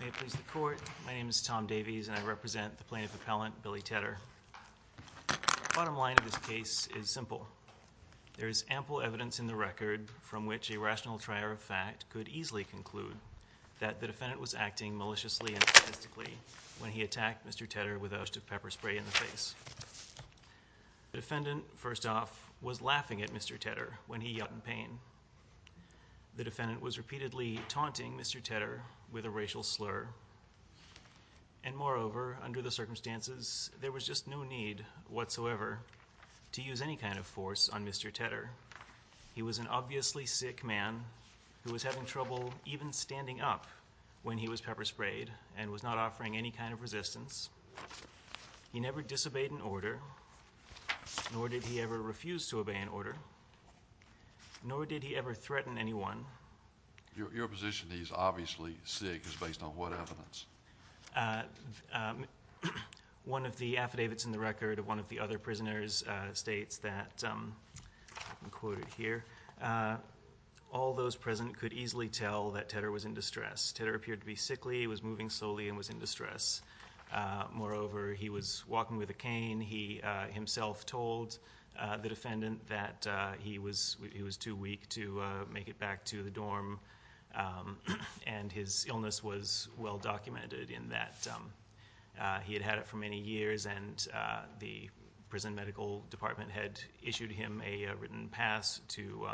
May it please the Court, my name is Tom Davies and I represent the Plaintiff Appellant Billy Tedder. The bottom line of this case is simple. There is ample evidence in the record from which a rational trier of fact could easily conclude that the defendant was acting maliciously and sadistically when he attacked Mr. Tedder with a host of pepper spray in the face. The defendant was repeatedly taunting Mr. Tedder with a racial slur and moreover under the circumstances there was just no need whatsoever to use any kind of force on Mr. Tedder. He was an obviously sick man who was having trouble even standing up when he was pepper sprayed and was not offering any kind of resistance. He never disobeyed an order nor did he ever refuse to obey an order nor did he ever threaten anyone. Your position that he is obviously sick is based on what evidence? One of the affidavits in the record of one of the other prisoners states that all those present could easily tell that Tedder was in distress. Tedder appeared to be sickly, he was moving slowly and was in distress. Moreover he was walking with a cane. He himself told the defendant that he was too weak to make it back to the dorm and his illness was well documented in that he had had it for many years and the prison medical department had issued him a written pass to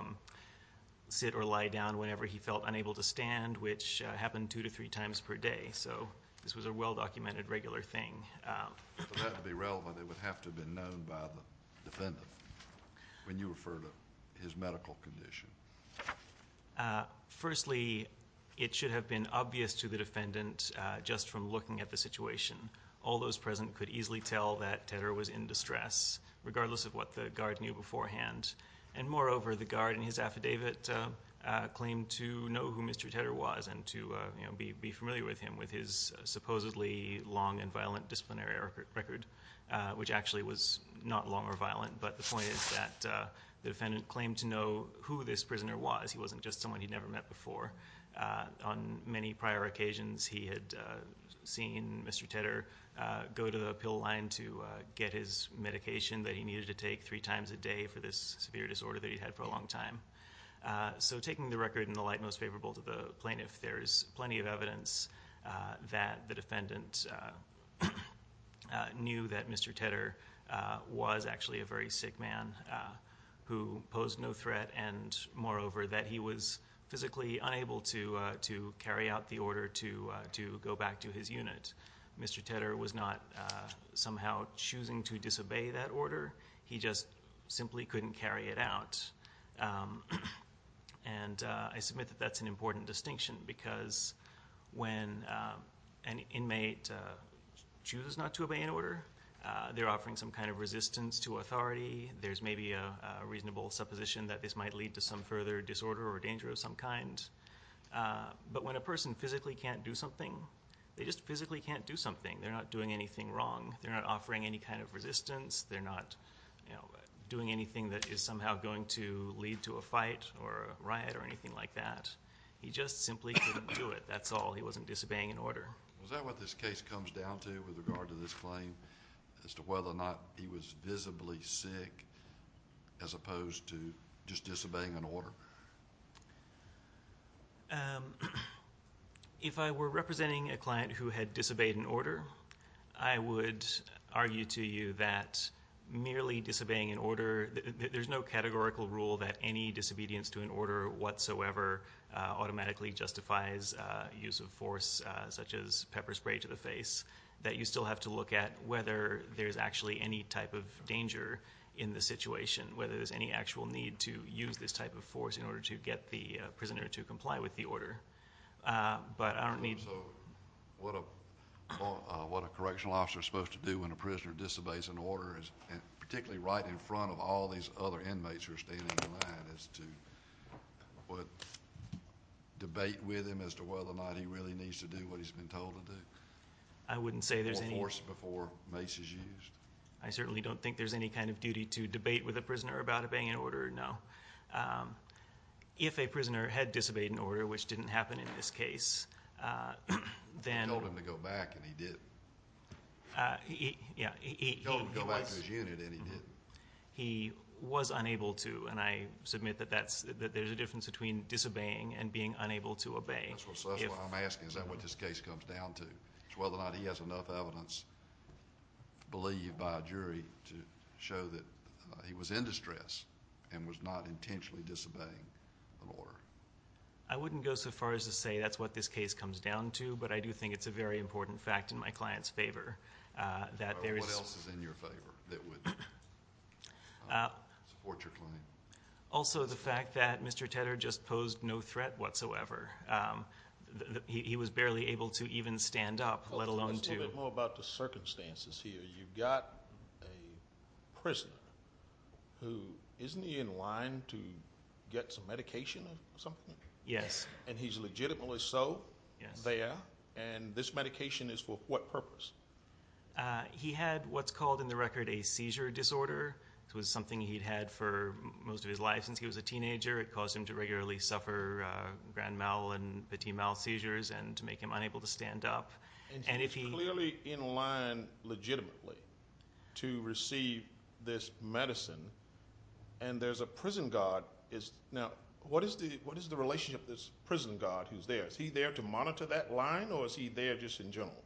sit or lie down whenever he felt unable to stand which happened two to three times per day. So this was a well documented regular thing. For that to be relevant it would have to have been known by the defendant when you refer to his medical condition. Firstly it should have been obvious to the defendant just from looking at the situation. All those present could easily tell that Tedder was in distress regardless of what the guard knew beforehand and moreover the guard in his affidavit claimed to know who Mr. Tedder was and to be familiar with him with his supposedly long and violent disciplinary record which actually was not long or violent but the point is that the defendant claimed to know who this prisoner was. He wasn't just someone he'd never met before. On many prior occasions he had seen Mr. Tedder go to the pill line to get his medication that he needed to take three times a day for this severe disorder that he'd had for a long time. So taking the record in the light most favorable to the plaintiff there is plenty of evidence that the defendant knew that Mr. Tedder was actually a very sick man who posed no threat and moreover that he was physically unable to carry out the order to go back to his unit. Mr. Tedder was not somehow choosing to disobey that order he just simply couldn't carry it out and I submit that that's an important distinction because when an inmate chooses not to obey an order they're offering some kind of resistance to authority. There's maybe a reasonable supposition that this might lead to some further disorder or danger of some kind but when a person physically can't do something they just physically can't do something. They're not doing anything wrong. They're not offering any kind of resistance. They're not doing anything that is somehow going to lead to a fight or a riot or anything like that. He just simply couldn't do it. That's all. He wasn't disobeying an order. Was that what this case comes down to with regard to this claim as to whether or not he was visibly sick as opposed to just disobeying an order? If I were representing a client who had disobeyed an order I would argue to you that merely disobeying an order there's no categorical rule that any disobedience to an order whatsoever automatically justifies use of force such as pepper spray to the face that you still have to look at whether there's actually any type of danger in the situation whether there's any actual need to use this type of force in order to get the prisoner to comply with the order. But I don't need... So what a correctional officer is supposed to do when a prisoner disobeys an order particularly right in front of all these other inmates who are standing in line is to debate with him as to whether or not he really needs to do what he's been told to do? I wouldn't say there's any... Or force before mace is used? I certainly don't think there's any kind of duty to debate with a prisoner about obeying an order, no. If a prisoner had disobeyed an order which didn't happen in this case then... He told him to go back and he did. Yeah. He told him to go back to his unit and he did. He was unable to and I submit that there's a difference between disobeying and being unable to obey. That's what I'm asking. Is that what this case comes down to? It's whether or not he has enough evidence believed by a jury to show that he was in distress and was not intentionally disobeying an order? I wouldn't go so far as to say that's what this case comes down to but I do think it's a very important fact in my client's favor that there is... What else is in your favor that would support your claim? Also the fact that Mr. Tedder just posed no threat whatsoever. He was barely able to even stand up, let alone to... Tell us a little bit more about the circumstances here. You've got a prisoner who isn't he in line to get some medication or something? Yes. And he's legitimately so there and this medication is for what purpose? He had what's called in the record a seizure disorder. It was something he'd had for most of his life since he was a teenager. It caused him to regularly suffer grand mal and petit mal seizures and to make him unable to stand up. And he's clearly in line legitimately to receive this medicine and there's a prison guard. Now what is the relationship of this prison guard who's there? Is he there to monitor that line or is he there just in general?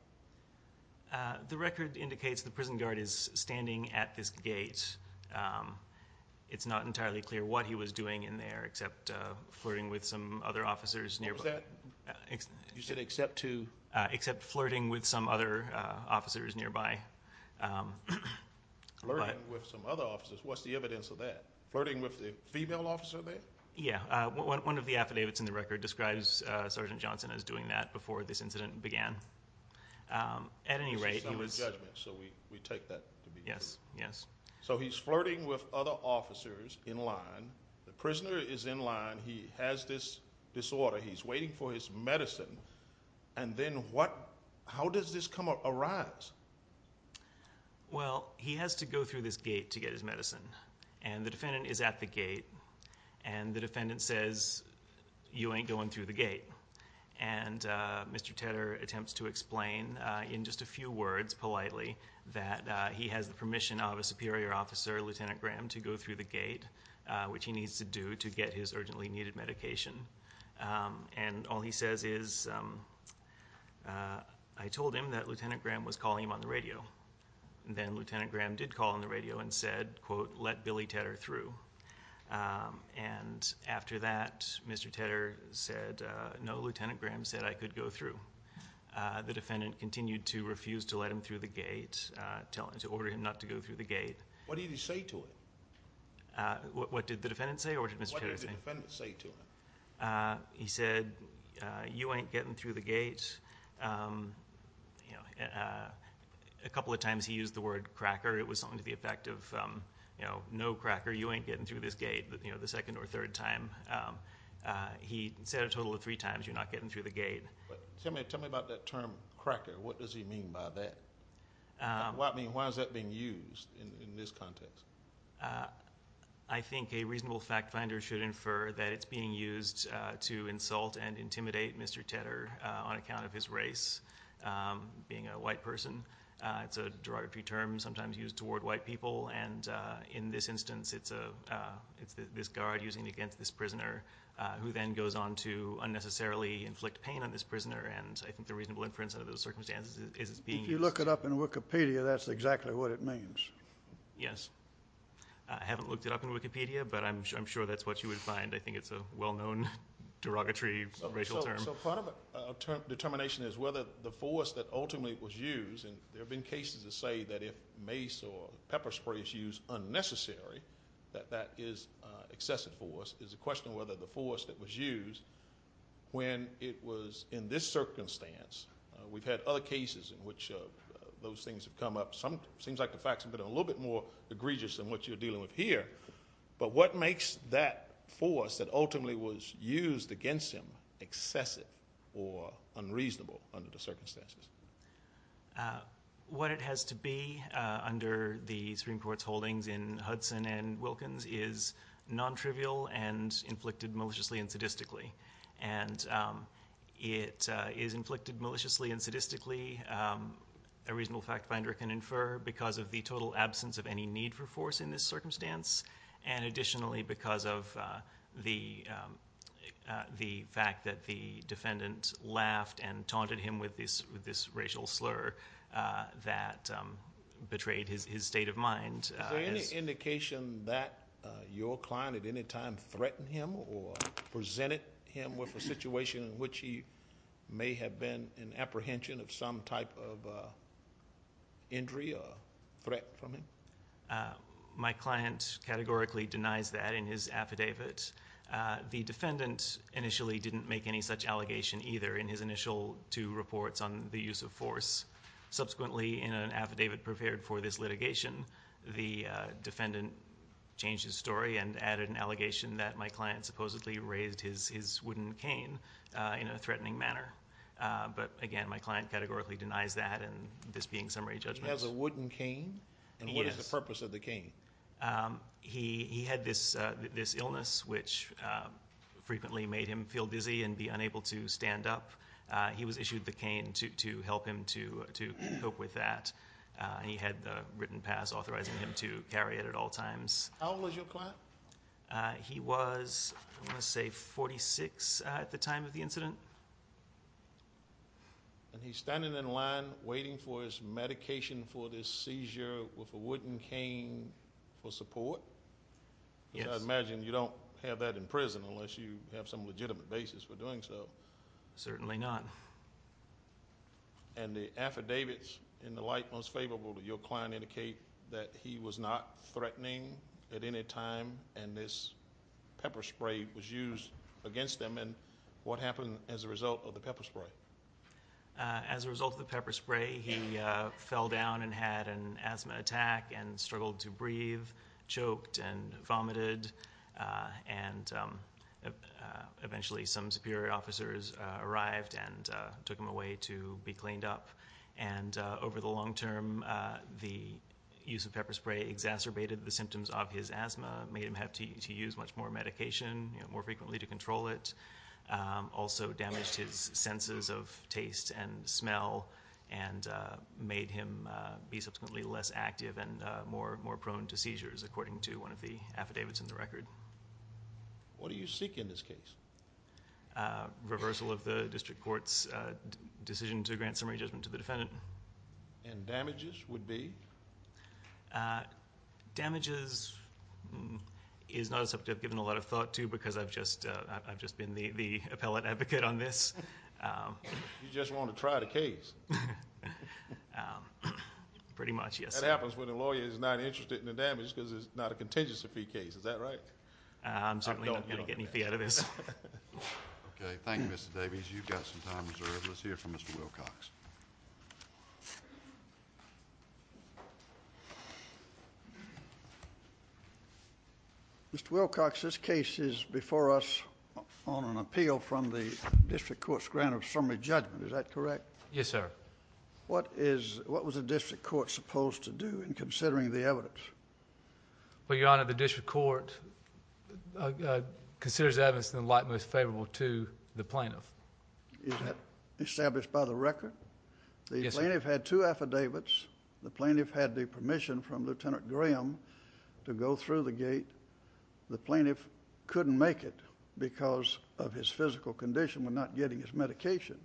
The record indicates the prison guard is standing at this gate. It's not entirely clear what he was doing in there except flirting with some other officers nearby. What was that? You said except to... Except flirting with some other officers nearby. Flirting with some other officers. What's the evidence of that? Flirting with the female officer there? Yes. One of the affidavits in the record describes Sergeant Johnson as doing that before this incident began. At any rate... It's a summary judgment so we take that to be true. So he's flirting with other officers in line. The prisoner is in line. He has this disorder. He's waiting for his medicine and then what... how does this come up, arise? Well he has to go through this gate to get his medicine and the defendant is at the gate and the defendant says, you ain't going through the gate. And Mr. Tedder attempts to explain in just a few words, politely, that he has the permission of a superior officer, Lieutenant Graham, to go through the gate, which he needs to do to get his urgently needed medication. And all he says is, I told him that Lieutenant Graham was calling him on the radio. Then Lieutenant Graham did call on the radio and said, quote, let Billy Tedder through. And after that, Mr. Tedder said, no, Lieutenant Graham said I could go through. The defendant continued to refuse to let him through the gate, to order him not to go through the gate. What did he say to him? What did the defendant say or what did Mr. Tedder say? What did the defendant say to him? He said, you ain't getting through the gate. A couple of times he used the word cracker. It was something to the effect of, no cracker, you ain't getting through this gate, the second or third time. He said a total of three times, you're not getting through the gate. Tell me about that term, cracker. What does he mean by that? Why is that being used in this context? I think a reasonable fact finder should infer that it's being used to insult and intimidate Mr. Tedder on account of his race, being a white person. It's a derogatory term sometimes used toward white people. And in this instance, it's this guard using it against this prisoner who then goes on to unnecessarily inflict pain on this prisoner. And I think the reasonable inference under those circumstances is it's being used. If you look it up in Wikipedia, that's exactly what it means. Yes. I haven't looked it up in Wikipedia, but I'm sure that's what you would find. I think it's a well-known derogatory racial term. So part of a determination is whether the force that ultimately was used, and there have been cases that say that if mace or pepper spray is used unnecessarily, that that is excessive force, is a question of whether the force that was used when it was in this case, those things have come up. It seems like the facts have been a little bit more egregious than what you're dealing with here. But what makes that force that ultimately was used against him excessive or unreasonable under the circumstances? What it has to be under the Supreme Court's holdings in Hudson and Wilkins is non-trivial and inflicted maliciously and sadistically. And it is inflicted maliciously and sadistically, a reasonable fact finder can infer, because of the total absence of any need for force in this circumstance, and additionally because of the fact that the defendant laughed and taunted him with this racial slur that betrayed his state of mind. Is there any indication that your client at any time threatened him or presented him with a situation in which he may have been in apprehension of some type of injury or threat from him? My client categorically denies that in his affidavit. The defendant initially didn't make any such allegation either in his initial two reports on the use of force. Subsequently in an affidavit prepared for this litigation, the defendant changed his story and added an allegation that my client supposedly raised his wooden cane in a threatening manner. But again, my client categorically denies that and this being summary judgment. He has a wooden cane? And what is the purpose of the cane? He had this illness which frequently made him feel dizzy and be unable to stand up. He was issued the cane to help him to cope with that. He had a written pass authorizing him to carry it at all times. How old was your client? He was, I want to say, 46 at the time of the incident. And he's standing in line waiting for his medication for this seizure with a wooden cane for support? Yes. I imagine you don't have that in prison unless you have some legitimate basis for doing so. Certainly not. And the affidavits in the light most favorable to your client indicate that he was not threatening at any time and this pepper spray was used against him. And what happened as a result of the pepper spray? As a result of the pepper spray, he fell down and had an asthma attack and struggled to and took him away to be cleaned up. And over the long term, the use of pepper spray exacerbated the symptoms of his asthma, made him have to use much more medication more frequently to control it, also damaged his senses of taste and smell, and made him be subsequently less active and more prone to seizures, according to one of the affidavits in the record. What do you seek in this case? Reversal of the district court's decision to grant summary judgment to the defendant. And damages would be? Damages is not a subject I've given a lot of thought to because I've just been the appellate advocate on this. You just want to try the case? Pretty much, yes. That happens when a lawyer is not interested in the damage because it's not a contingency fee case, is that right? I'm certainly not going to get any fee out of this. Okay, thank you, Mr. Davies. You've got some time reserved. Let's hear from Mr. Wilcox. Mr. Wilcox, this case is before us on an appeal from the district court's grant of summary judgment, is that correct? Yes, sir. What was the district court supposed to do in considering the evidence? Well, Your Honor, the district court considers the evidence in the light most favorable to the plaintiff. Is that established by the record? Yes, sir. The plaintiff had two affidavits. The plaintiff had the permission from Lieutenant Graham to go through the gate. The plaintiff couldn't make it because of his physical condition when not getting his medication.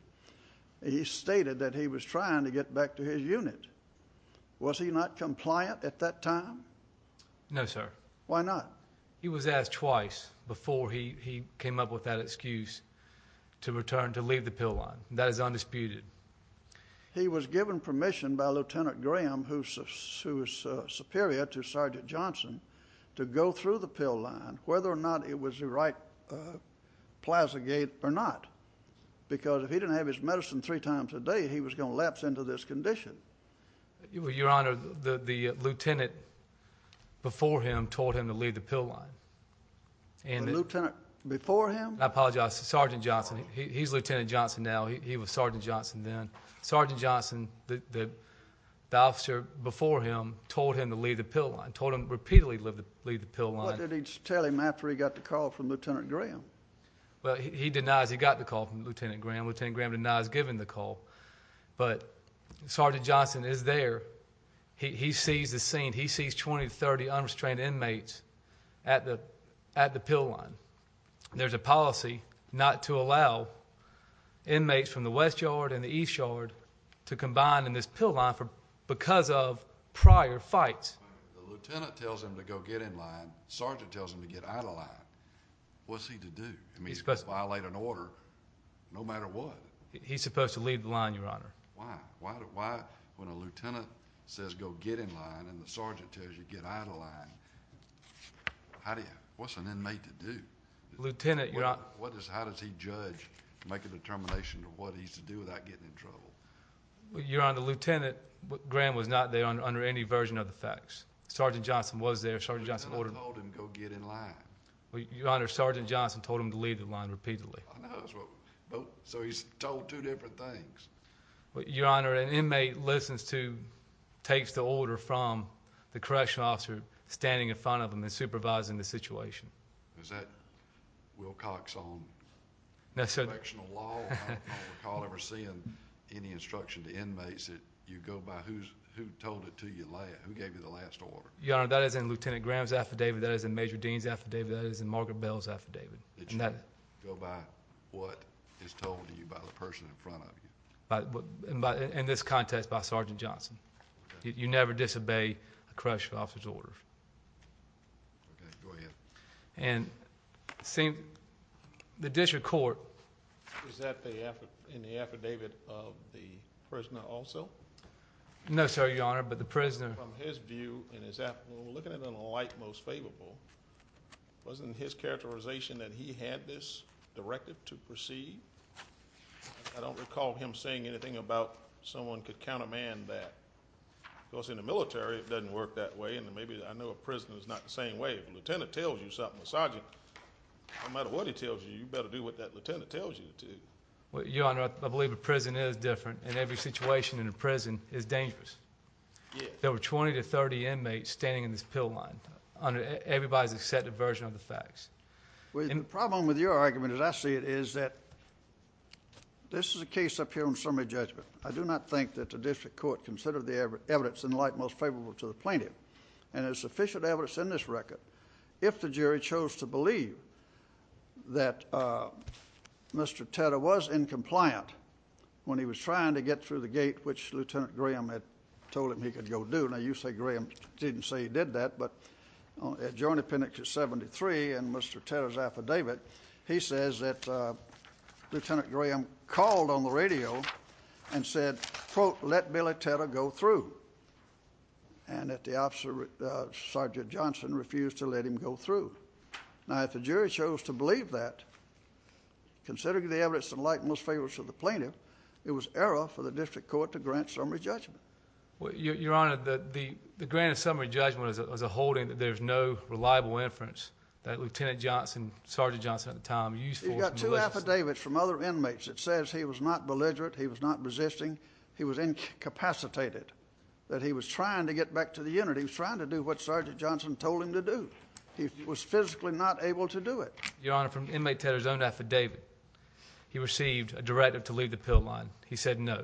He stated that he was trying to get back to his unit. Was he not compliant at that time? No, sir. Why not? He was asked twice before he came up with that excuse to return to leave the pill line. That is undisputed. He was given permission by Lieutenant Graham, who is superior to Sergeant Johnson, to go through the pill line, whether or not it was the right plaza gate or not, because if he didn't have his medicine three times a day, he was going to lapse into this condition. Well, Your Honor, the lieutenant before him told him to leave the pill line. The lieutenant before him? I apologize. Sergeant Johnson. He's Lieutenant Johnson now. He was Sergeant Johnson then. Sergeant Johnson, the officer before him, told him to leave the pill line, told him repeatedly to leave the pill line. What did he tell him after he got the call from Lieutenant Graham? Well, he denies he got the call from Lieutenant Graham. Lieutenant Graham denies giving the call. But Sergeant Johnson is there. He sees the scene. He sees 20 to 30 unrestrained inmates at the pill line. There's a policy not to allow inmates from the West Yard and the East Yard to combine in this pill line because of prior fights. The lieutenant tells him to go get in line. Sergeant tells him to get out of the line. What's he to do? He's supposed to violate an order no matter what. He's supposed to leave the line, Your Honor. Why? When a lieutenant says go get in line and the sergeant tells you to get out of the line, what's an inmate to do? Lieutenant, Your Honor. How does he judge, make a determination of what he's to do without getting in trouble? Your Honor, the lieutenant, Graham, was not there under any version of the facts. Sergeant Johnson was there. Sergeant Johnson ordered him. Go get in line. Your Honor, Sergeant Johnson told him to leave the line repeatedly. I know. So he's told two different things. Your Honor, an inmate listens to, takes the order from the correctional officer standing in front of him and supervising the situation. Is that Wilcoxon? No, sir. Correctional law? I don't recall ever seeing any instruction to inmates that you go by who told it to you last, who gave you the last order. Your Honor, that is in Lieutenant Graham's affidavit. That is in Major Dean's affidavit. That is in Margaret Bell's affidavit. Did you go by what is told to you by the person in front of you? In this context, by Sergeant Johnson. You never disobey a correctional officer's order. Okay. Go ahead. And the district court... Is that in the affidavit of the prisoner also? No, sir, Your Honor, but the prisoner... When we're looking at it in the light most favorable, wasn't his characterization that he had this directive to proceed? I don't recall him saying anything about someone could countermand that. Of course, in the military it doesn't work that way, and maybe I know a prisoner is not the same way. If a lieutenant tells you something, a sergeant, no matter what he tells you, you better do what that lieutenant tells you to. Your Honor, I believe a prison is different, and every situation in a prison is dangerous. There were 20 to 30 inmates standing in this pill line under everybody's accepted version of the facts. The problem with your argument, as I see it, is that this is a case up here on summary judgment. I do not think that the district court considered the evidence in the light most favorable to the plaintiff, and there's sufficient evidence in this record if the jury chose to believe that Mr. Tedder was incompliant when he was trying to get through the gate which Lieutenant Graham had told him he could go do. Now, you say Graham didn't say he did that, but at Joint Appendix 73 in Mr. Tedder's affidavit, he says that Lieutenant Graham called on the radio and said, quote, let Billy Tedder go through, and that the officer, Sergeant Johnson, refused to let him go through. Now, if the jury chose to believe that, considering the evidence in the light most favorable to the plaintiff, it was error for the district court to grant summary judgment. Your Honor, the grant of summary judgment is a holding that there's no reliable inference that Lieutenant Johnson, Sergeant Johnson at the time, used for his maliciousness. He's got two affidavits from other inmates that says he was not belligerent, he was not resisting, he was incapacitated, that he was trying to get back to the unit. He was trying to do what Sergeant Johnson told him to do. He was physically not able to do it. Your Honor, from inmate Tedder's own affidavit, he received a directive to leave the pill line. He said no.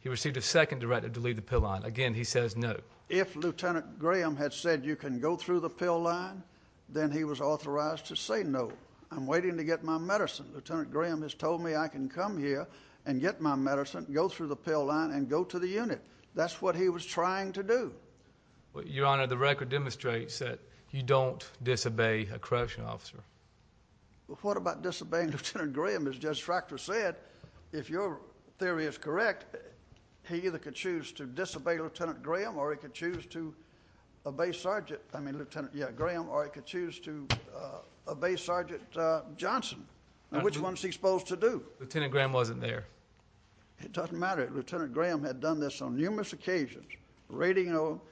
He received a second directive to leave the pill line. Again, he says no. If Lieutenant Graham had said you can go through the pill line, then he was authorized to say no. I'm waiting to get my medicine. Lieutenant Graham has told me I can come here and get my medicine, go through the pill line, and go to the unit. That's what he was trying to do. Your Honor, the record demonstrates that you don't disobey a correctional officer. What about disobeying Lieutenant Graham? As Judge Fractor said, if your theory is correct, he either could choose to disobey Lieutenant Graham or he could choose to obey Sergeant Johnson. Which one is he supposed to do? Lieutenant Graham wasn't there. It doesn't matter. Lieutenant Graham had done this on numerous occasions, radioing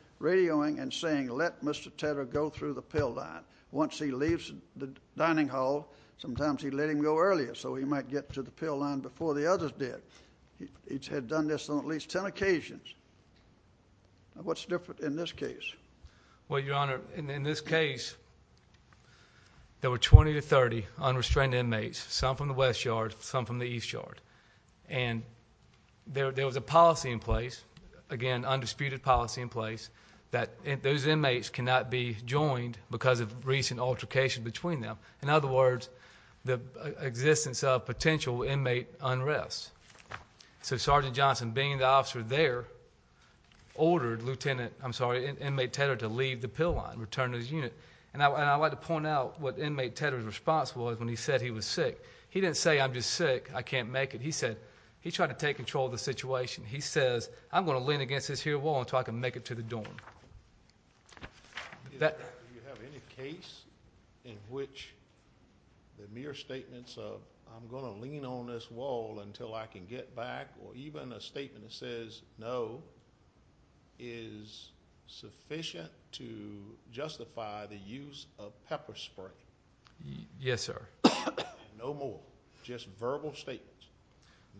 and saying let Mr. Tedder go through the pill line. Once he leaves the dining hall, sometimes he'd let him go earlier so he might get to the pill line before the others did. He had done this on at least ten occasions. What's different in this case? Well, Your Honor, in this case there were 20 to 30 unrestrained inmates, some from the West Yard, some from the East Yard. And there was a policy in place, again, undisputed policy in place, that those inmates cannot be joined because of recent altercation between them. In other words, the existence of potential inmate unrest. So Sergeant Johnson, being the officer there, ordered Lieutenant, I'm sorry, Inmate Tedder to leave the pill line, return to his unit. And I'd like to point out what Inmate Tedder's response was when he said he was sick. He didn't say I'm just sick, I can't make it. He said he tried to take control of the situation. He says I'm going to lean against this here wall until I can make it to the dorm. Do you have any case in which the mere statements of I'm going to lean on this wall until I can get back, or even a statement that says no, is sufficient to justify the use of pepper spray? Yes, sir. No more. Just verbal statements.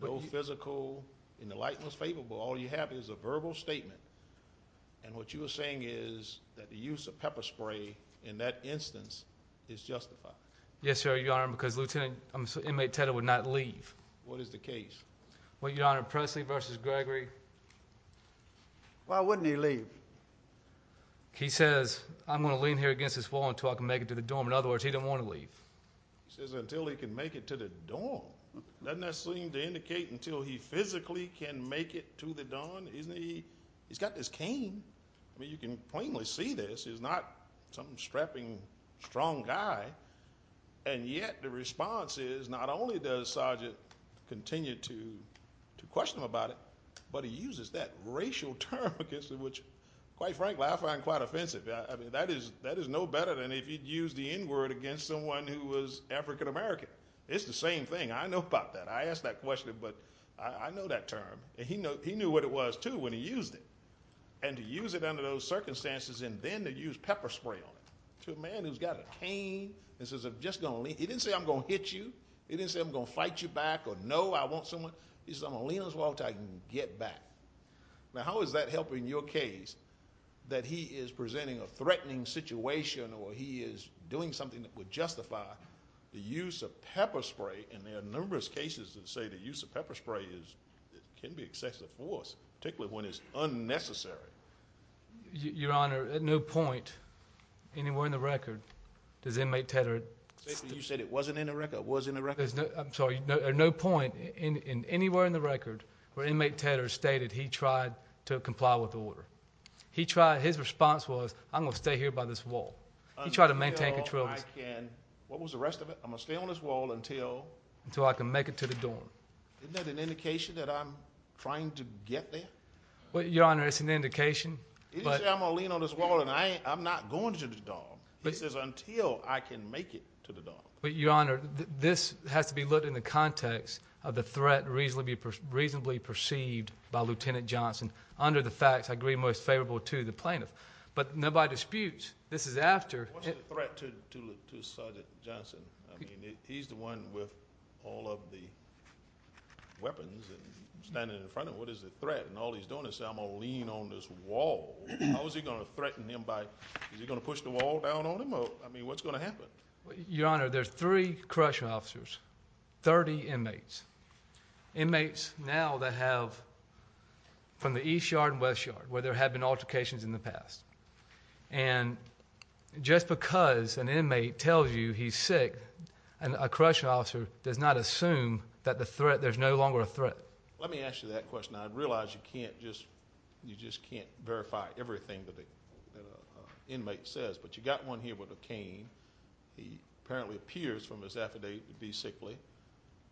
No physical, in the light most favorable. All you have is a verbal statement. And what you are saying is that the use of pepper spray in that instance is justified. Yes, sir, Your Honor, because Lieutenant, I'm sorry, Inmate Tedder would not leave. What is the case? Well, Your Honor, Presley v. Gregory. Why wouldn't he leave? He says I'm going to lean here against this wall until I can make it to the dorm. In other words, he didn't want to leave. He says until he can make it to the dorm. Doesn't that seem to indicate until he physically can make it to the dorm? He's got this cane. I mean, you can plainly see this. He's not some strapping, strong guy. And yet the response is not only does Sargent continue to question him about it, but he uses that racial term against him, which, quite frankly, I find quite offensive. I mean, that is no better than if you'd use the N-word against someone who was African American. It's the same thing. I know about that. I asked that question, but I know that term. And he knew what it was, too, when he used it. And to use it under those circumstances and then to use pepper spray on it. To a man who's got a cane and says I'm just going to lean. He didn't say I'm going to hit you. He didn't say I'm going to fight you back or no, I want someone. He says I'm going to lean on this wall until I can get back. Now, how is that helping your case that he is presenting a threatening situation or he is doing something that would justify the use of pepper spray? And there are numerous cases that say the use of pepper spray can be excessive force, particularly when it's unnecessary. Your Honor, at no point anywhere in the record does inmate Tedder – You said it wasn't in the record. It was in the record. I'm sorry. At no point anywhere in the record where inmate Tedder stated he tried to comply with the order. His response was I'm going to stay here by this wall. He tried to maintain control. What was the rest of it? I'm going to stay on this wall until I can make it to the dorm. Isn't that an indication that I'm trying to get there? Your Honor, it's an indication. He didn't say I'm going to lean on this wall and I'm not going to the dorm. He says until I can make it to the dorm. Your Honor, this has to be looked at in the context of the threat reasonably perceived by Lieutenant Johnson under the facts I agree most favorable to the plaintiff. But nobody disputes this is after – What's the threat to Sergeant Johnson? I mean, he's the one with all of the weapons and standing in front of him. What is the threat? And all he's doing is saying I'm going to lean on this wall. How is he going to threaten him by – is he going to push the wall down on him? I mean, what's going to happen? Your Honor, there's three correctional officers, 30 inmates. Inmates now that have – from the East Yard and West Yard where there have been altercations in the past. And just because an inmate tells you he's sick, a correctional officer does not assume that the threat – there's no longer a threat. Let me ask you that question. I realize you can't just – you just can't verify everything that the inmate says. But you've got one here with a cane. He apparently appears from his affidavit to be sickly.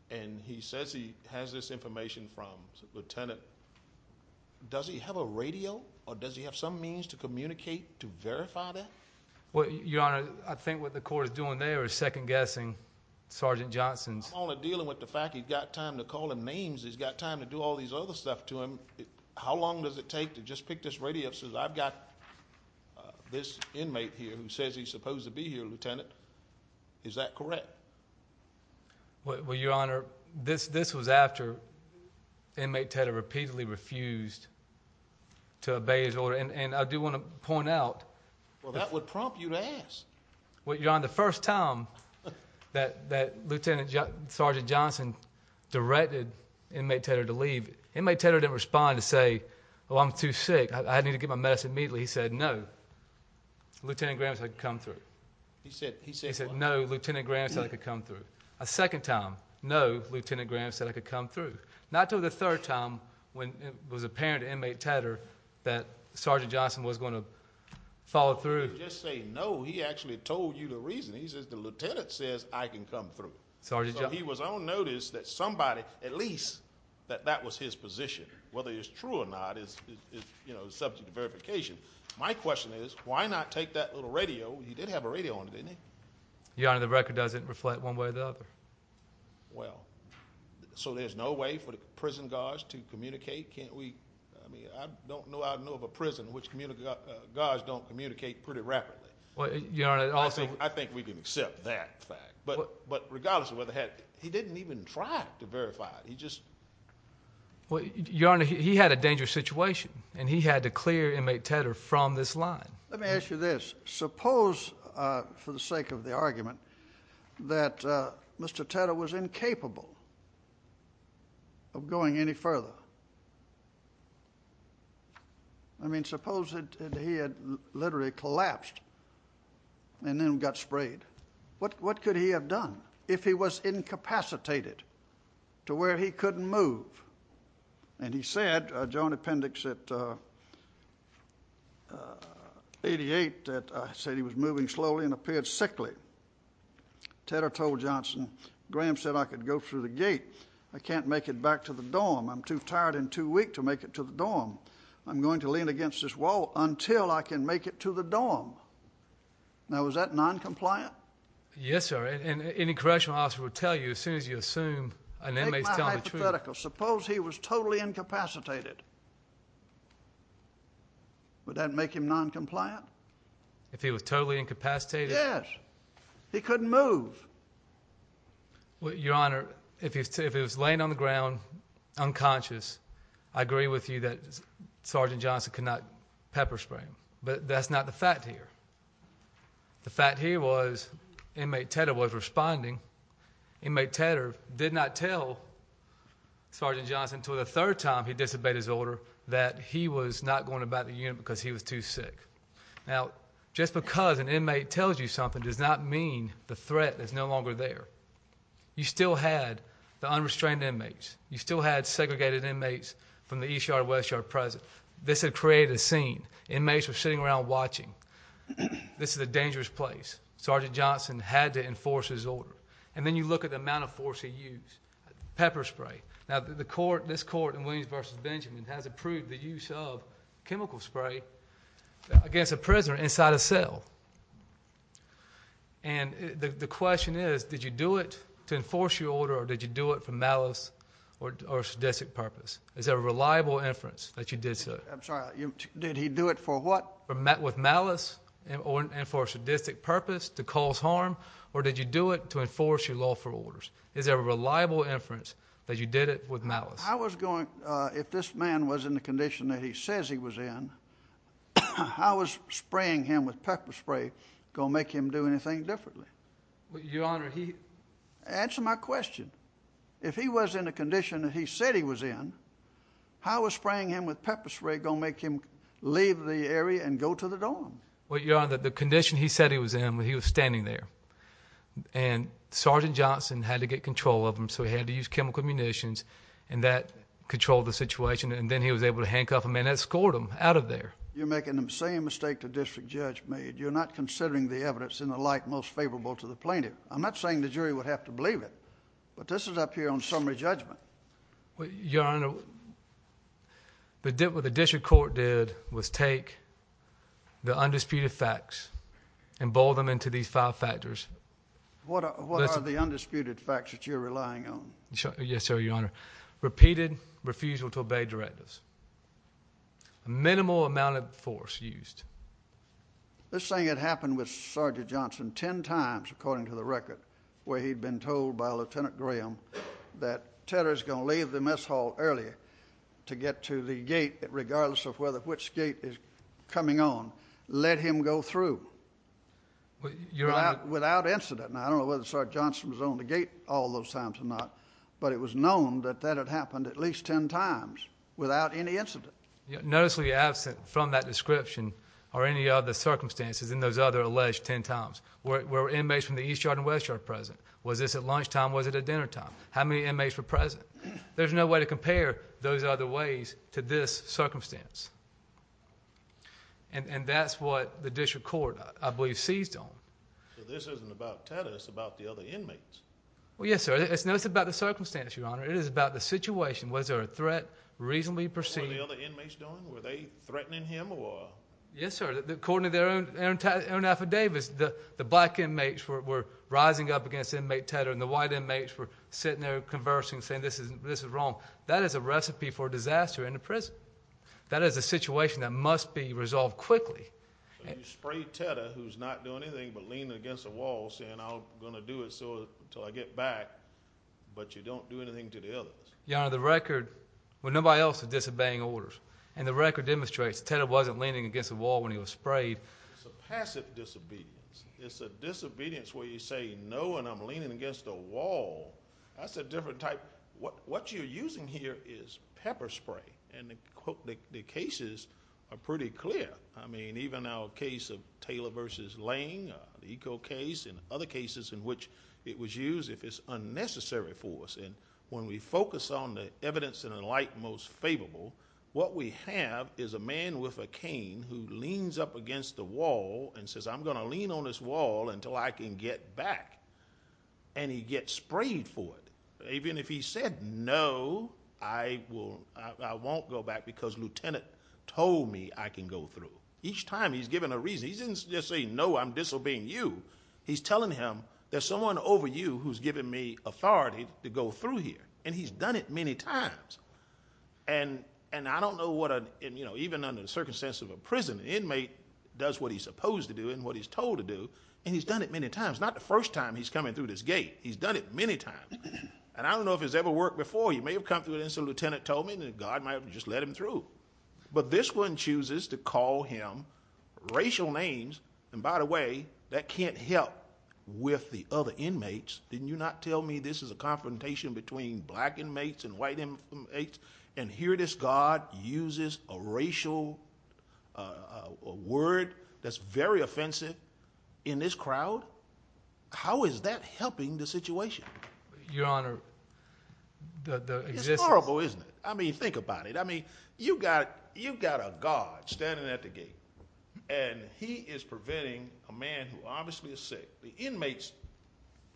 And he says he has this information from Lieutenant. Does he have a radio or does he have some means to communicate to verify that? Well, Your Honor, I think what the court is doing there is second-guessing Sergeant Johnson. I'm only dealing with the fact he's got time to call him names. He's got time to do all these other stuff to him. How long does it take to just pick this radio up and say I've got this inmate here who says he's supposed to be here, Lieutenant? Is that correct? Well, Your Honor, this was after inmate Tedder repeatedly refused to obey his order. And I do want to point out – Well, that would prompt you to ask. Well, Your Honor, the first time that Lieutenant Sergeant Johnson directed inmate Tedder to leave, inmate Tedder didn't respond to say, oh, I'm too sick. I need to get my medicine immediately. He said no. Lieutenant Graham said I could come through. He said what? He said no, Lieutenant Graham said I could come through. A second time, no, Lieutenant Graham said I could come through. Not until the third time when it was apparent to inmate Tedder that Sergeant Johnson was going to follow through. He didn't just say no. He actually told you the reason. He says the lieutenant says I can come through. So he was on notice that somebody, at least, that that was his position, whether it's true or not is subject to verification. My question is why not take that little radio? He did have a radio on him, didn't he? Your Honor, the record doesn't reflect one way or the other. Well, so there's no way for the prison guards to communicate? Can't we – I don't know of a prison in which guards don't communicate pretty rapidly. Your Honor, also – I think we can accept that fact. But regardless of whether it had – he didn't even try to verify it. Your Honor, he had a dangerous situation, and he had to clear inmate Tedder from this line. Let me ask you this. Suppose, for the sake of the argument, that Mr. Tedder was incapable of going any further. I mean, suppose that he had literally collapsed and then got sprayed. What could he have done if he was incapacitated to where he couldn't move? And he said, Joint Appendix 88, that he was moving slowly and appeared sickly. Tedder told Johnson, Graham said, I could go through the gate. I can't make it back to the dorm. I'm too tired and too weak to make it to the dorm. I'm going to lean against this wall until I can make it to the dorm. Now, is that noncompliant? Yes, sir. And any correctional officer would tell you as soon as you assume an inmate is telling the truth. Make my hypothetical. Suppose he was totally incapacitated. Would that make him noncompliant? If he was totally incapacitated? Yes. He couldn't move. Your Honor, if he was laying on the ground unconscious, I agree with you that Sergeant Johnson could not pepper spray him. But that's not the fact here. The fact here was inmate Tedder was responding. Inmate Tedder did not tell Sergeant Johnson until the third time he disobeyed his order that he was not going to bat the unit because he was too sick. Now, just because an inmate tells you something does not mean the threat is no longer there. You still had the unrestrained inmates. You still had segregated inmates from the East Yard and West Yard present. This had created a scene. Inmates were sitting around watching. This is a dangerous place. Sergeant Johnson had to enforce his order. And then you look at the amount of force he used. Pepper spray. Now, this court in Williams v. Benjamin has approved the use of chemical spray against a prisoner inside a cell. And the question is, did you do it to enforce your order or did you do it for malice or sadistic purpose? Is there a reliable inference that you did so? I'm sorry, did he do it for what? With malice and for a sadistic purpose to cause harm or did you do it to enforce your lawful orders? Is there a reliable inference that you did it with malice? I was going, if this man was in the condition that he says he was in, how is spraying him with pepper spray going to make him do anything differently? Your Honor, he... Answer my question. If he was in the condition that he said he was in, how is spraying him with pepper spray going to make him leave the area and go to the dorm? Well, Your Honor, the condition he said he was in, he was standing there. And Sergeant Johnson had to get control of him, so he had to use chemical munitions, and that controlled the situation. And then he was able to handcuff him and escort him out of there. You're making the same mistake the district judge made. You're not considering the evidence in the light most favorable to the plaintiff. I'm not saying the jury would have to believe it, but this is up here on summary judgment. Your Honor, what the district court did was take the undisputed facts and boil them into these five factors. What are the undisputed facts that you're relying on? Yes, sir, Your Honor. Repeated refusal to obey directives. Minimal amount of force used. This thing had happened with Sergeant Johnson ten times, according to the record, where he'd been told by Lieutenant Graham that Tedder's going to leave the mess hall early to get to the gate regardless of which gate is coming on. Let him go through without incident. Now, I don't know whether Sergeant Johnson was on the gate all those times or not, but it was known that that had happened at least ten times without any incident. Noticely absent from that description are any other circumstances in those other alleged ten times where inmates from the East Yard and West Yard were present. Was this at lunchtime? Was it at dinnertime? How many inmates were present? There's no way to compare those other ways to this circumstance. And that's what the district court, I believe, seized on. So this isn't about Tedder. It's about the other inmates. Well, yes, sir. No, it's about the circumstance, Your Honor. It is about the situation. Was there a threat reasonably perceived? What were the other inmates doing? Were they threatening him? Yes, sir. According to their own affidavits, the black inmates were rising up against inmate Tedder and the white inmates were sitting there conversing, saying this is wrong. That is a recipe for disaster in a prison. That is a situation that must be resolved quickly. You spray Tedder, who's not doing anything but leaning against a wall, saying I'm going to do it until I get back, but you don't do anything to the others. Your Honor, the record, well, nobody else was disobeying orders. And the record demonstrates Tedder wasn't leaning against a wall when he was sprayed. It's a passive disobedience. It's a disobedience where you say no and I'm leaning against a wall. That's a different type. What you're using here is pepper spray. And the cases are pretty clear. I mean, even our case of Taylor v. Lane, the eco case, and other cases in which it was used, if it's unnecessary for us. And when we focus on the evidence in a light most favorable, what we have is a man with a cane who leans up against the wall and says I'm going to lean on this wall until I can get back. And he gets sprayed for it. Even if he said no, I won't go back because Lieutenant told me I can go through. Each time he's given a reason. He didn't just say no, I'm disobeying you. He's telling him there's someone over you who's given me authority to go through here. And he's done it many times. And I don't know what a, even under the circumstances of a prison, an inmate does what he's supposed to do and what he's told to do, and he's done it many times. Not the first time he's coming through this gate. He's done it many times. And I don't know if it's ever worked before. He may have come through and the Lieutenant told him, and God might have just let him through. But this one chooses to call him racial names. And by the way, that can't help with the other inmates. Didn't you not tell me this is a confrontation between black inmates and white inmates? And here this guard uses a racial word that's very offensive in this crowd? How is that helping the situation? Your Honor, the existence. It's horrible, isn't it? I mean, think about it. I mean, you've got a guard standing at the gate. And he is preventing a man who obviously is sick. The inmates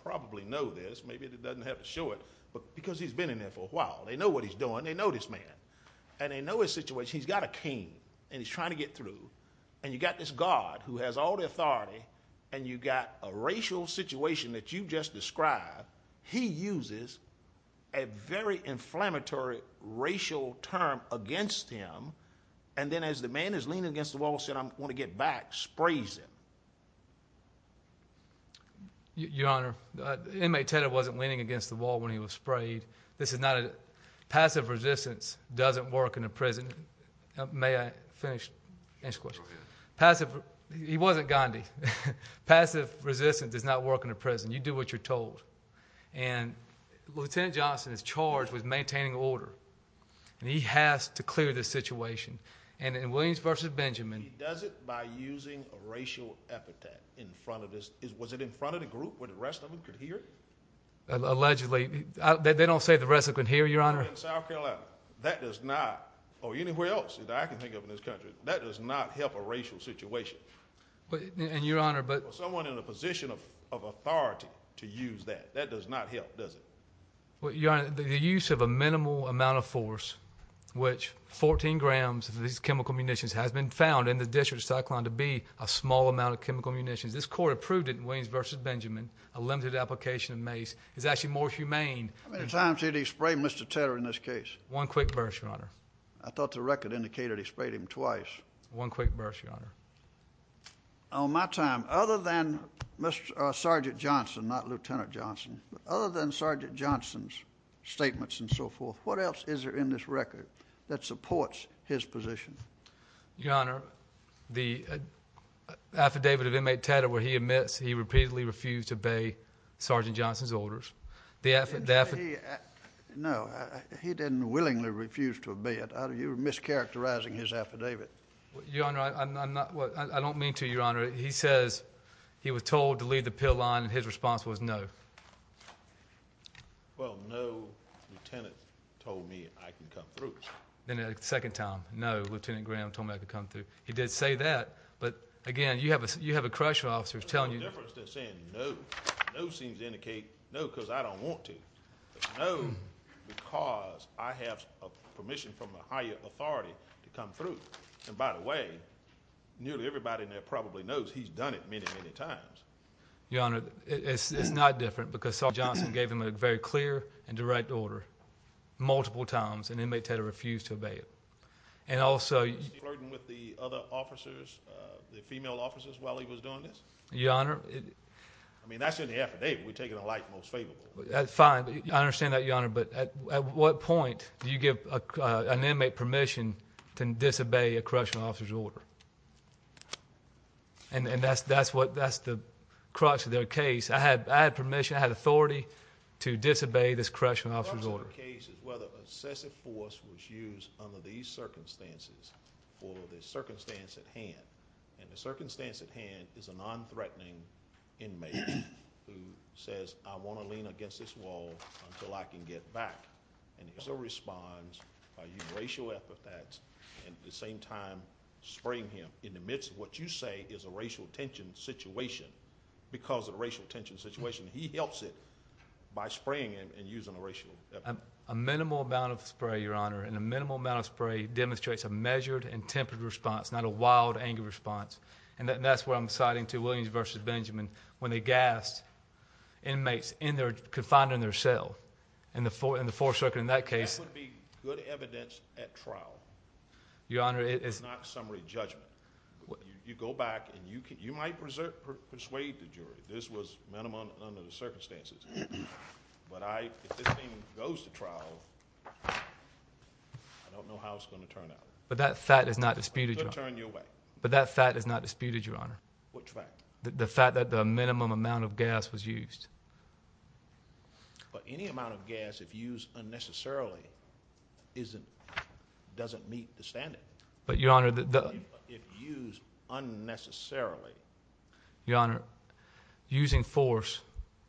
probably know this. Maybe it doesn't have to show it. But because he's been in there for a while, they know what he's doing. They know this man. And they know his situation. He's got a cane, and he's trying to get through. And you've got this guard who has all the authority, and you've got a racial situation that you just described. He uses a very inflammatory racial term against him. And then as the man is leaning against the wall and says, I want to get back, sprays him. Your Honor, the inmate, Ted, wasn't leaning against the wall when he was sprayed. Passive resistance doesn't work in a prison. May I finish? Passive. He wasn't Gandhi. Passive resistance does not work in a prison. You do what you're told. And Lieutenant Johnson is charged with maintaining order. And he has to clear the situation. And in Williams v. Benjamin. He does it by using a racial epithet in front of his. Was it in front of the group where the rest of them could hear? Allegedly. They don't say the rest of them could hear, Your Honor. In South Carolina, that does not, or anywhere else that I can think of in this country, that does not help a racial situation. And, Your Honor, but. For someone in a position of authority to use that, that does not help, does it? Well, Your Honor, the use of a minimal amount of force, which 14 grams of these chemical munitions has been found in the district of Cyclone to be a small amount of chemical munitions. This court approved it in Williams v. Benjamin. A limited application of mace is actually more humane. How many times did he spray Mr. Tedder in this case? One quick burst, Your Honor. I thought the record indicated he sprayed him twice. One quick burst, Your Honor. On my time, other than Sergeant Johnson, not Lieutenant Johnson, other than Sergeant Johnson's statements and so forth, what else is there in this record that supports his position? Your Honor, the affidavit of Inmate Tedder where he admits he repeatedly refused to obey Sergeant Johnson's orders. No, he didn't willingly refuse to obey it. You're mischaracterizing his affidavit. Your Honor, I don't mean to, Your Honor. He says he was told to leave the pill line, and his response was no. Well, no, Lieutenant told me I could come through. Then a second time, no, Lieutenant Graham told me I could come through. He did say that, but, again, you have a correctional officer telling you. There's no difference in saying no. No seems to indicate no because I don't want to. It's no because I have permission from a higher authority to come through. And, by the way, nearly everybody in there probably knows he's done it many, many times. Your Honor, it's not different because Sergeant Johnson gave him a very clear and direct order multiple times, and Inmate Tedder refused to obey it. And also— Was he flirting with the other officers, the female officers, while he was doing this? Your Honor— I mean, that's in the affidavit. We take it in light and most favorable. Fine. I understand that, Your Honor. But at what point do you give an inmate permission to disobey a correctional officer's order? And that's the crux of their case. I had permission, I had authority to disobey this correctional officer's order. The crux of the case is whether excessive force was used under these circumstances or the circumstance at hand. And the circumstance at hand is a nonthreatening inmate who says, I want to lean against this wall until I can get back. And he still responds by using racial epithets and, at the same time, spraying him in the midst of what you say is a racial tension situation. Because of the racial tension situation, he helps it by spraying him and using a racial epithet. A minimal amount of spray, Your Honor, and a minimal amount of spray demonstrates a measured and tempered response, not a wild, angry response. And that's what I'm citing to Williams v. Benjamin. When they gassed inmates confined in their cell in the Fourth Circuit in that case. That would be good evidence at trial. Your Honor, it is not summary judgment. You go back and you might persuade the jury this was minimum under the circumstances. But if this thing goes to trial, I don't know how it's going to turn out. But that fact is not disputed, Your Honor. It's going to turn you away. But that fact is not disputed, Your Honor. Which fact? The fact that the minimum amount of gas was used. But any amount of gas, if used unnecessarily, doesn't meet the standard. But, Your Honor, the— If used unnecessarily. Your Honor, using force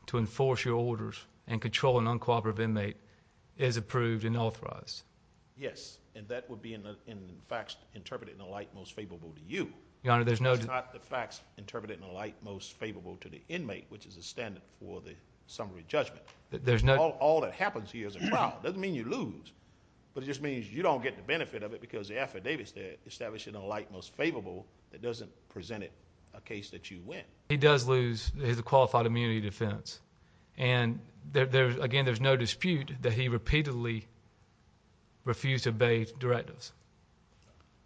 to enforce your orders and control an uncooperative inmate is approved and authorized. Yes, and that would be, in fact, interpreted in a light most favorable to you. Your Honor, there's no— It's not the facts interpreted in a light most favorable to the inmate, which is the standard for the summary judgment. All that happens here is a trial. It doesn't mean you lose. But it just means you don't get the benefit of it because the affidavit is established in a light most favorable that doesn't present it a case that you win. He does lose his qualified immunity defense. And, again, there's no dispute that he repeatedly refused to obey directives.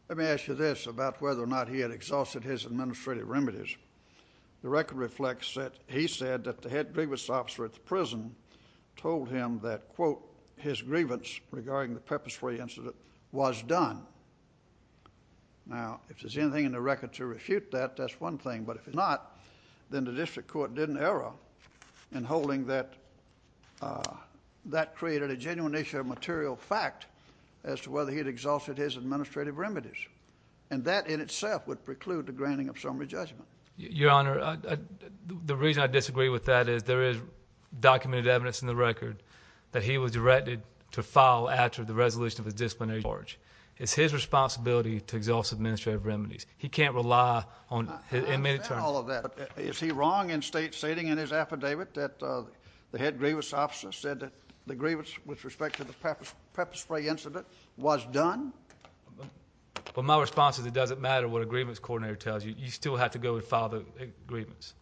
Let me ask you this about whether or not he had exhausted his administrative remedies. The record reflects that he said that the head grievance officer at the prison told him that, quote, his grievance regarding the pepper spray incident was done. Now, if there's anything in the record to refute that, that's one thing. But if not, then the district court did an error in holding that that created a genuine issue of material fact as to whether he had exhausted his administrative remedies. And that in itself would preclude the granting of summary judgment. Your Honor, the reason I disagree with that is there is documented evidence in the record that he was directed to file after the resolution of his disciplinary charge. It's his responsibility to exhaust administrative remedies. He can't rely on his inmate attorney. I understand all of that. But is he wrong in stating in his affidavit that the head grievance officer said that the grievance with respect to the pepper spray incident was done? Well, my response is it doesn't matter what a grievance coordinator tells you. You still have to go and file the grievance.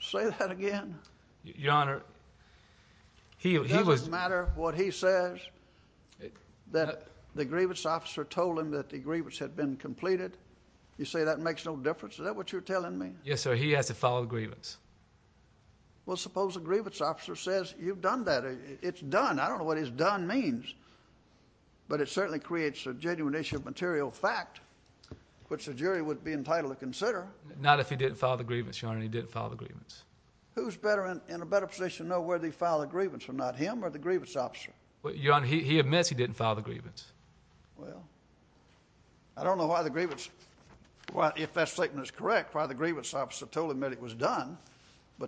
Say that again. Your Honor, he was... It doesn't matter what he says. The grievance officer told him that the grievance had been completed. You say that makes no difference? Is that what you're telling me? Yes, sir. He has to file the grievance. Well, suppose a grievance officer says you've done that. It's done. I don't know what his done means. But it certainly creates a genuine issue of material fact, which the jury would be entitled to consider. Not if he didn't file the grievance, Your Honor. He didn't file the grievance. Who's in a better position to know whether he filed the grievance? Not him or the grievance officer? Your Honor, he admits he didn't file the grievance. Well, I don't know why the grievance... But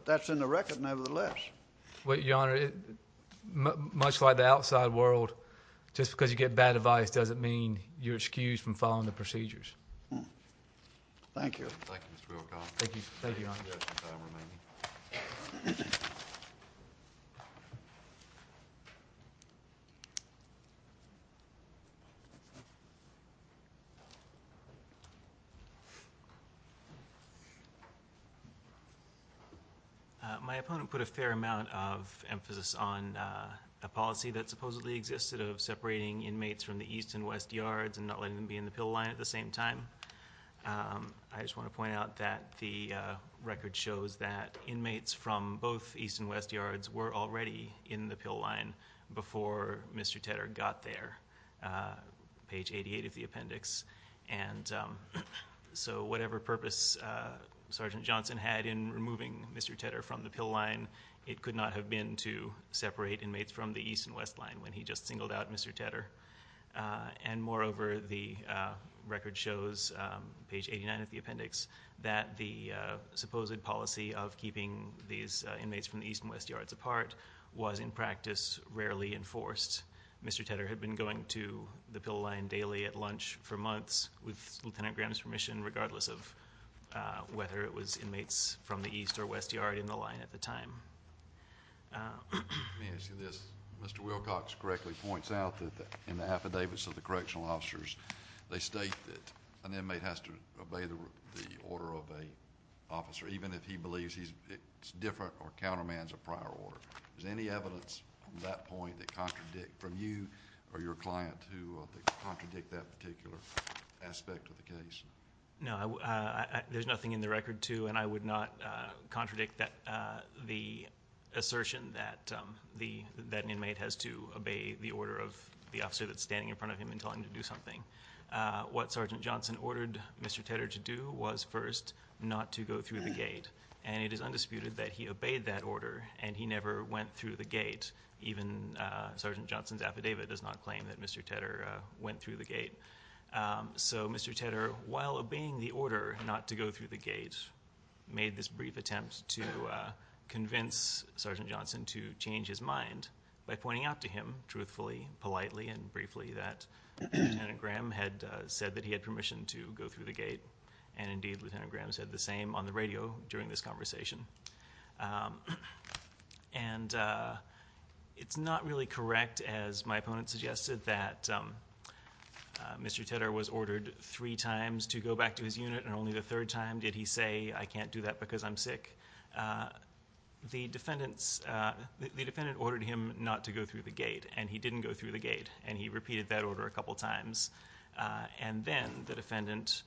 that's in the record nevertheless. Your Honor, much like the outside world, just because you get bad advice doesn't mean you're excused from following the procedures. Thank you. Thank you, Mr. Wilcox. Thank you, Your Honor. We've got some time remaining. My opponent put a fair amount of emphasis on a policy that supposedly existed of separating inmates from the East and West Yards and not letting them be in the pill line at the same time. I just want to point out that the record shows that inmates from both East and West Yards were already in the pill line before Mr. Tedder got there, page 88 of the appendix. And so whatever purpose Sergeant Johnson had in removing Mr. Tedder from the pill line, it could not have been to separate inmates from the East and West Line when he just singled out Mr. Tedder. And moreover, the record shows, page 89 of the appendix, that the supposed policy of keeping these inmates from the East and West Yards apart was in practice rarely enforced. Mr. Tedder had been going to the pill line daily at lunch for months with Lieutenant Graham's permission, regardless of whether it was inmates from the East or West Yard in the line at the time. Let me ask you this. Mr. Wilcox correctly points out that in the affidavits of the correctional officers, they state that an inmate has to obey the order of an officer, even if he believes he's different or countermands a prior order. Is there any evidence from that point that contradicts, from you or your client who contradict that particular aspect of the case? No. There's nothing in the record to, and I would not contradict, the assertion that an inmate has to obey the order of the officer that's standing in front of him and telling him to do something. What Sergeant Johnson ordered Mr. Tedder to do was first not to go through the gate, and it is undisputed that he obeyed that order, and he never went through the gate. Even Sergeant Johnson's affidavit does not claim that Mr. Tedder went through the gate. So Mr. Tedder, while obeying the order not to go through the gate, made this brief attempt to convince Sergeant Johnson to change his mind by pointing out to him, truthfully, politely, and briefly, that Lieutenant Graham had said that he had permission to go through the gate, and indeed Lieutenant Graham said the same on the radio during this conversation. And it's not really correct, as my opponent suggested, that Mr. Tedder was ordered three times to go back to his unit, and only the third time did he say, I can't do that because I'm sick. The defendant ordered him not to go through the gate, and he didn't go through the gate, and he repeated that order a couple times. And then the defendant,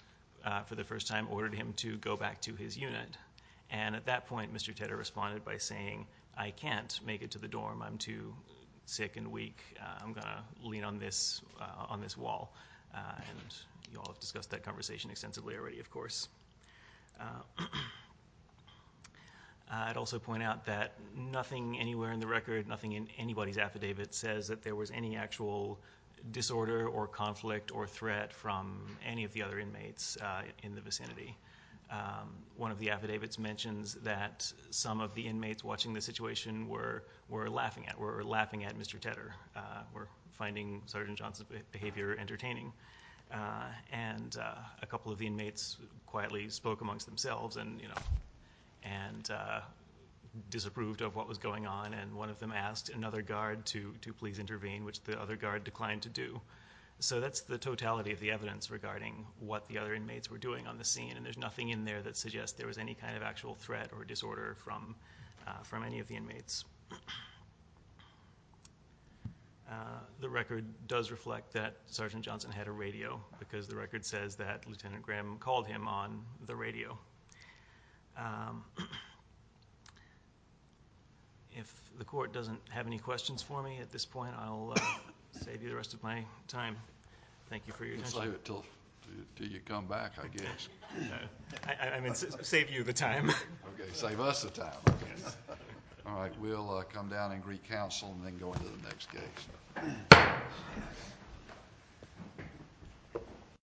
for the first time, ordered him to go back to his unit. And at that point, Mr. Tedder responded by saying, I can't make it to the dorm. I'm too sick and weak. I'm going to lean on this wall. And you all have discussed that conversation extensively already, of course. I'd also point out that nothing anywhere in the record, nothing in anybody's affidavit, says that there was any actual disorder or conflict or threat from any of the other inmates in the vicinity. One of the affidavits mentions that some of the inmates watching the situation were laughing at Mr. Tedder, were finding Sergeant Johnson's behavior entertaining. And a couple of the inmates quietly spoke amongst themselves and disapproved of what was going on, and one of them asked another guard to please intervene, which the other guard declined to do. So that's the totality of the evidence regarding what the other inmates were doing on the scene, and there's nothing in there that suggests there was any kind of actual threat or disorder from any of the inmates. The record does reflect that Sergeant Johnson had a radio, because the record says that Lieutenant Graham called him on the radio. So if the court doesn't have any questions for me at this point, I'll save you the rest of my time. Thank you for your attention. Let's leave it until you come back, I guess. I mean, save you the time. Okay, save us the time, I guess. All right, we'll come down and recounsel and then go into the next case.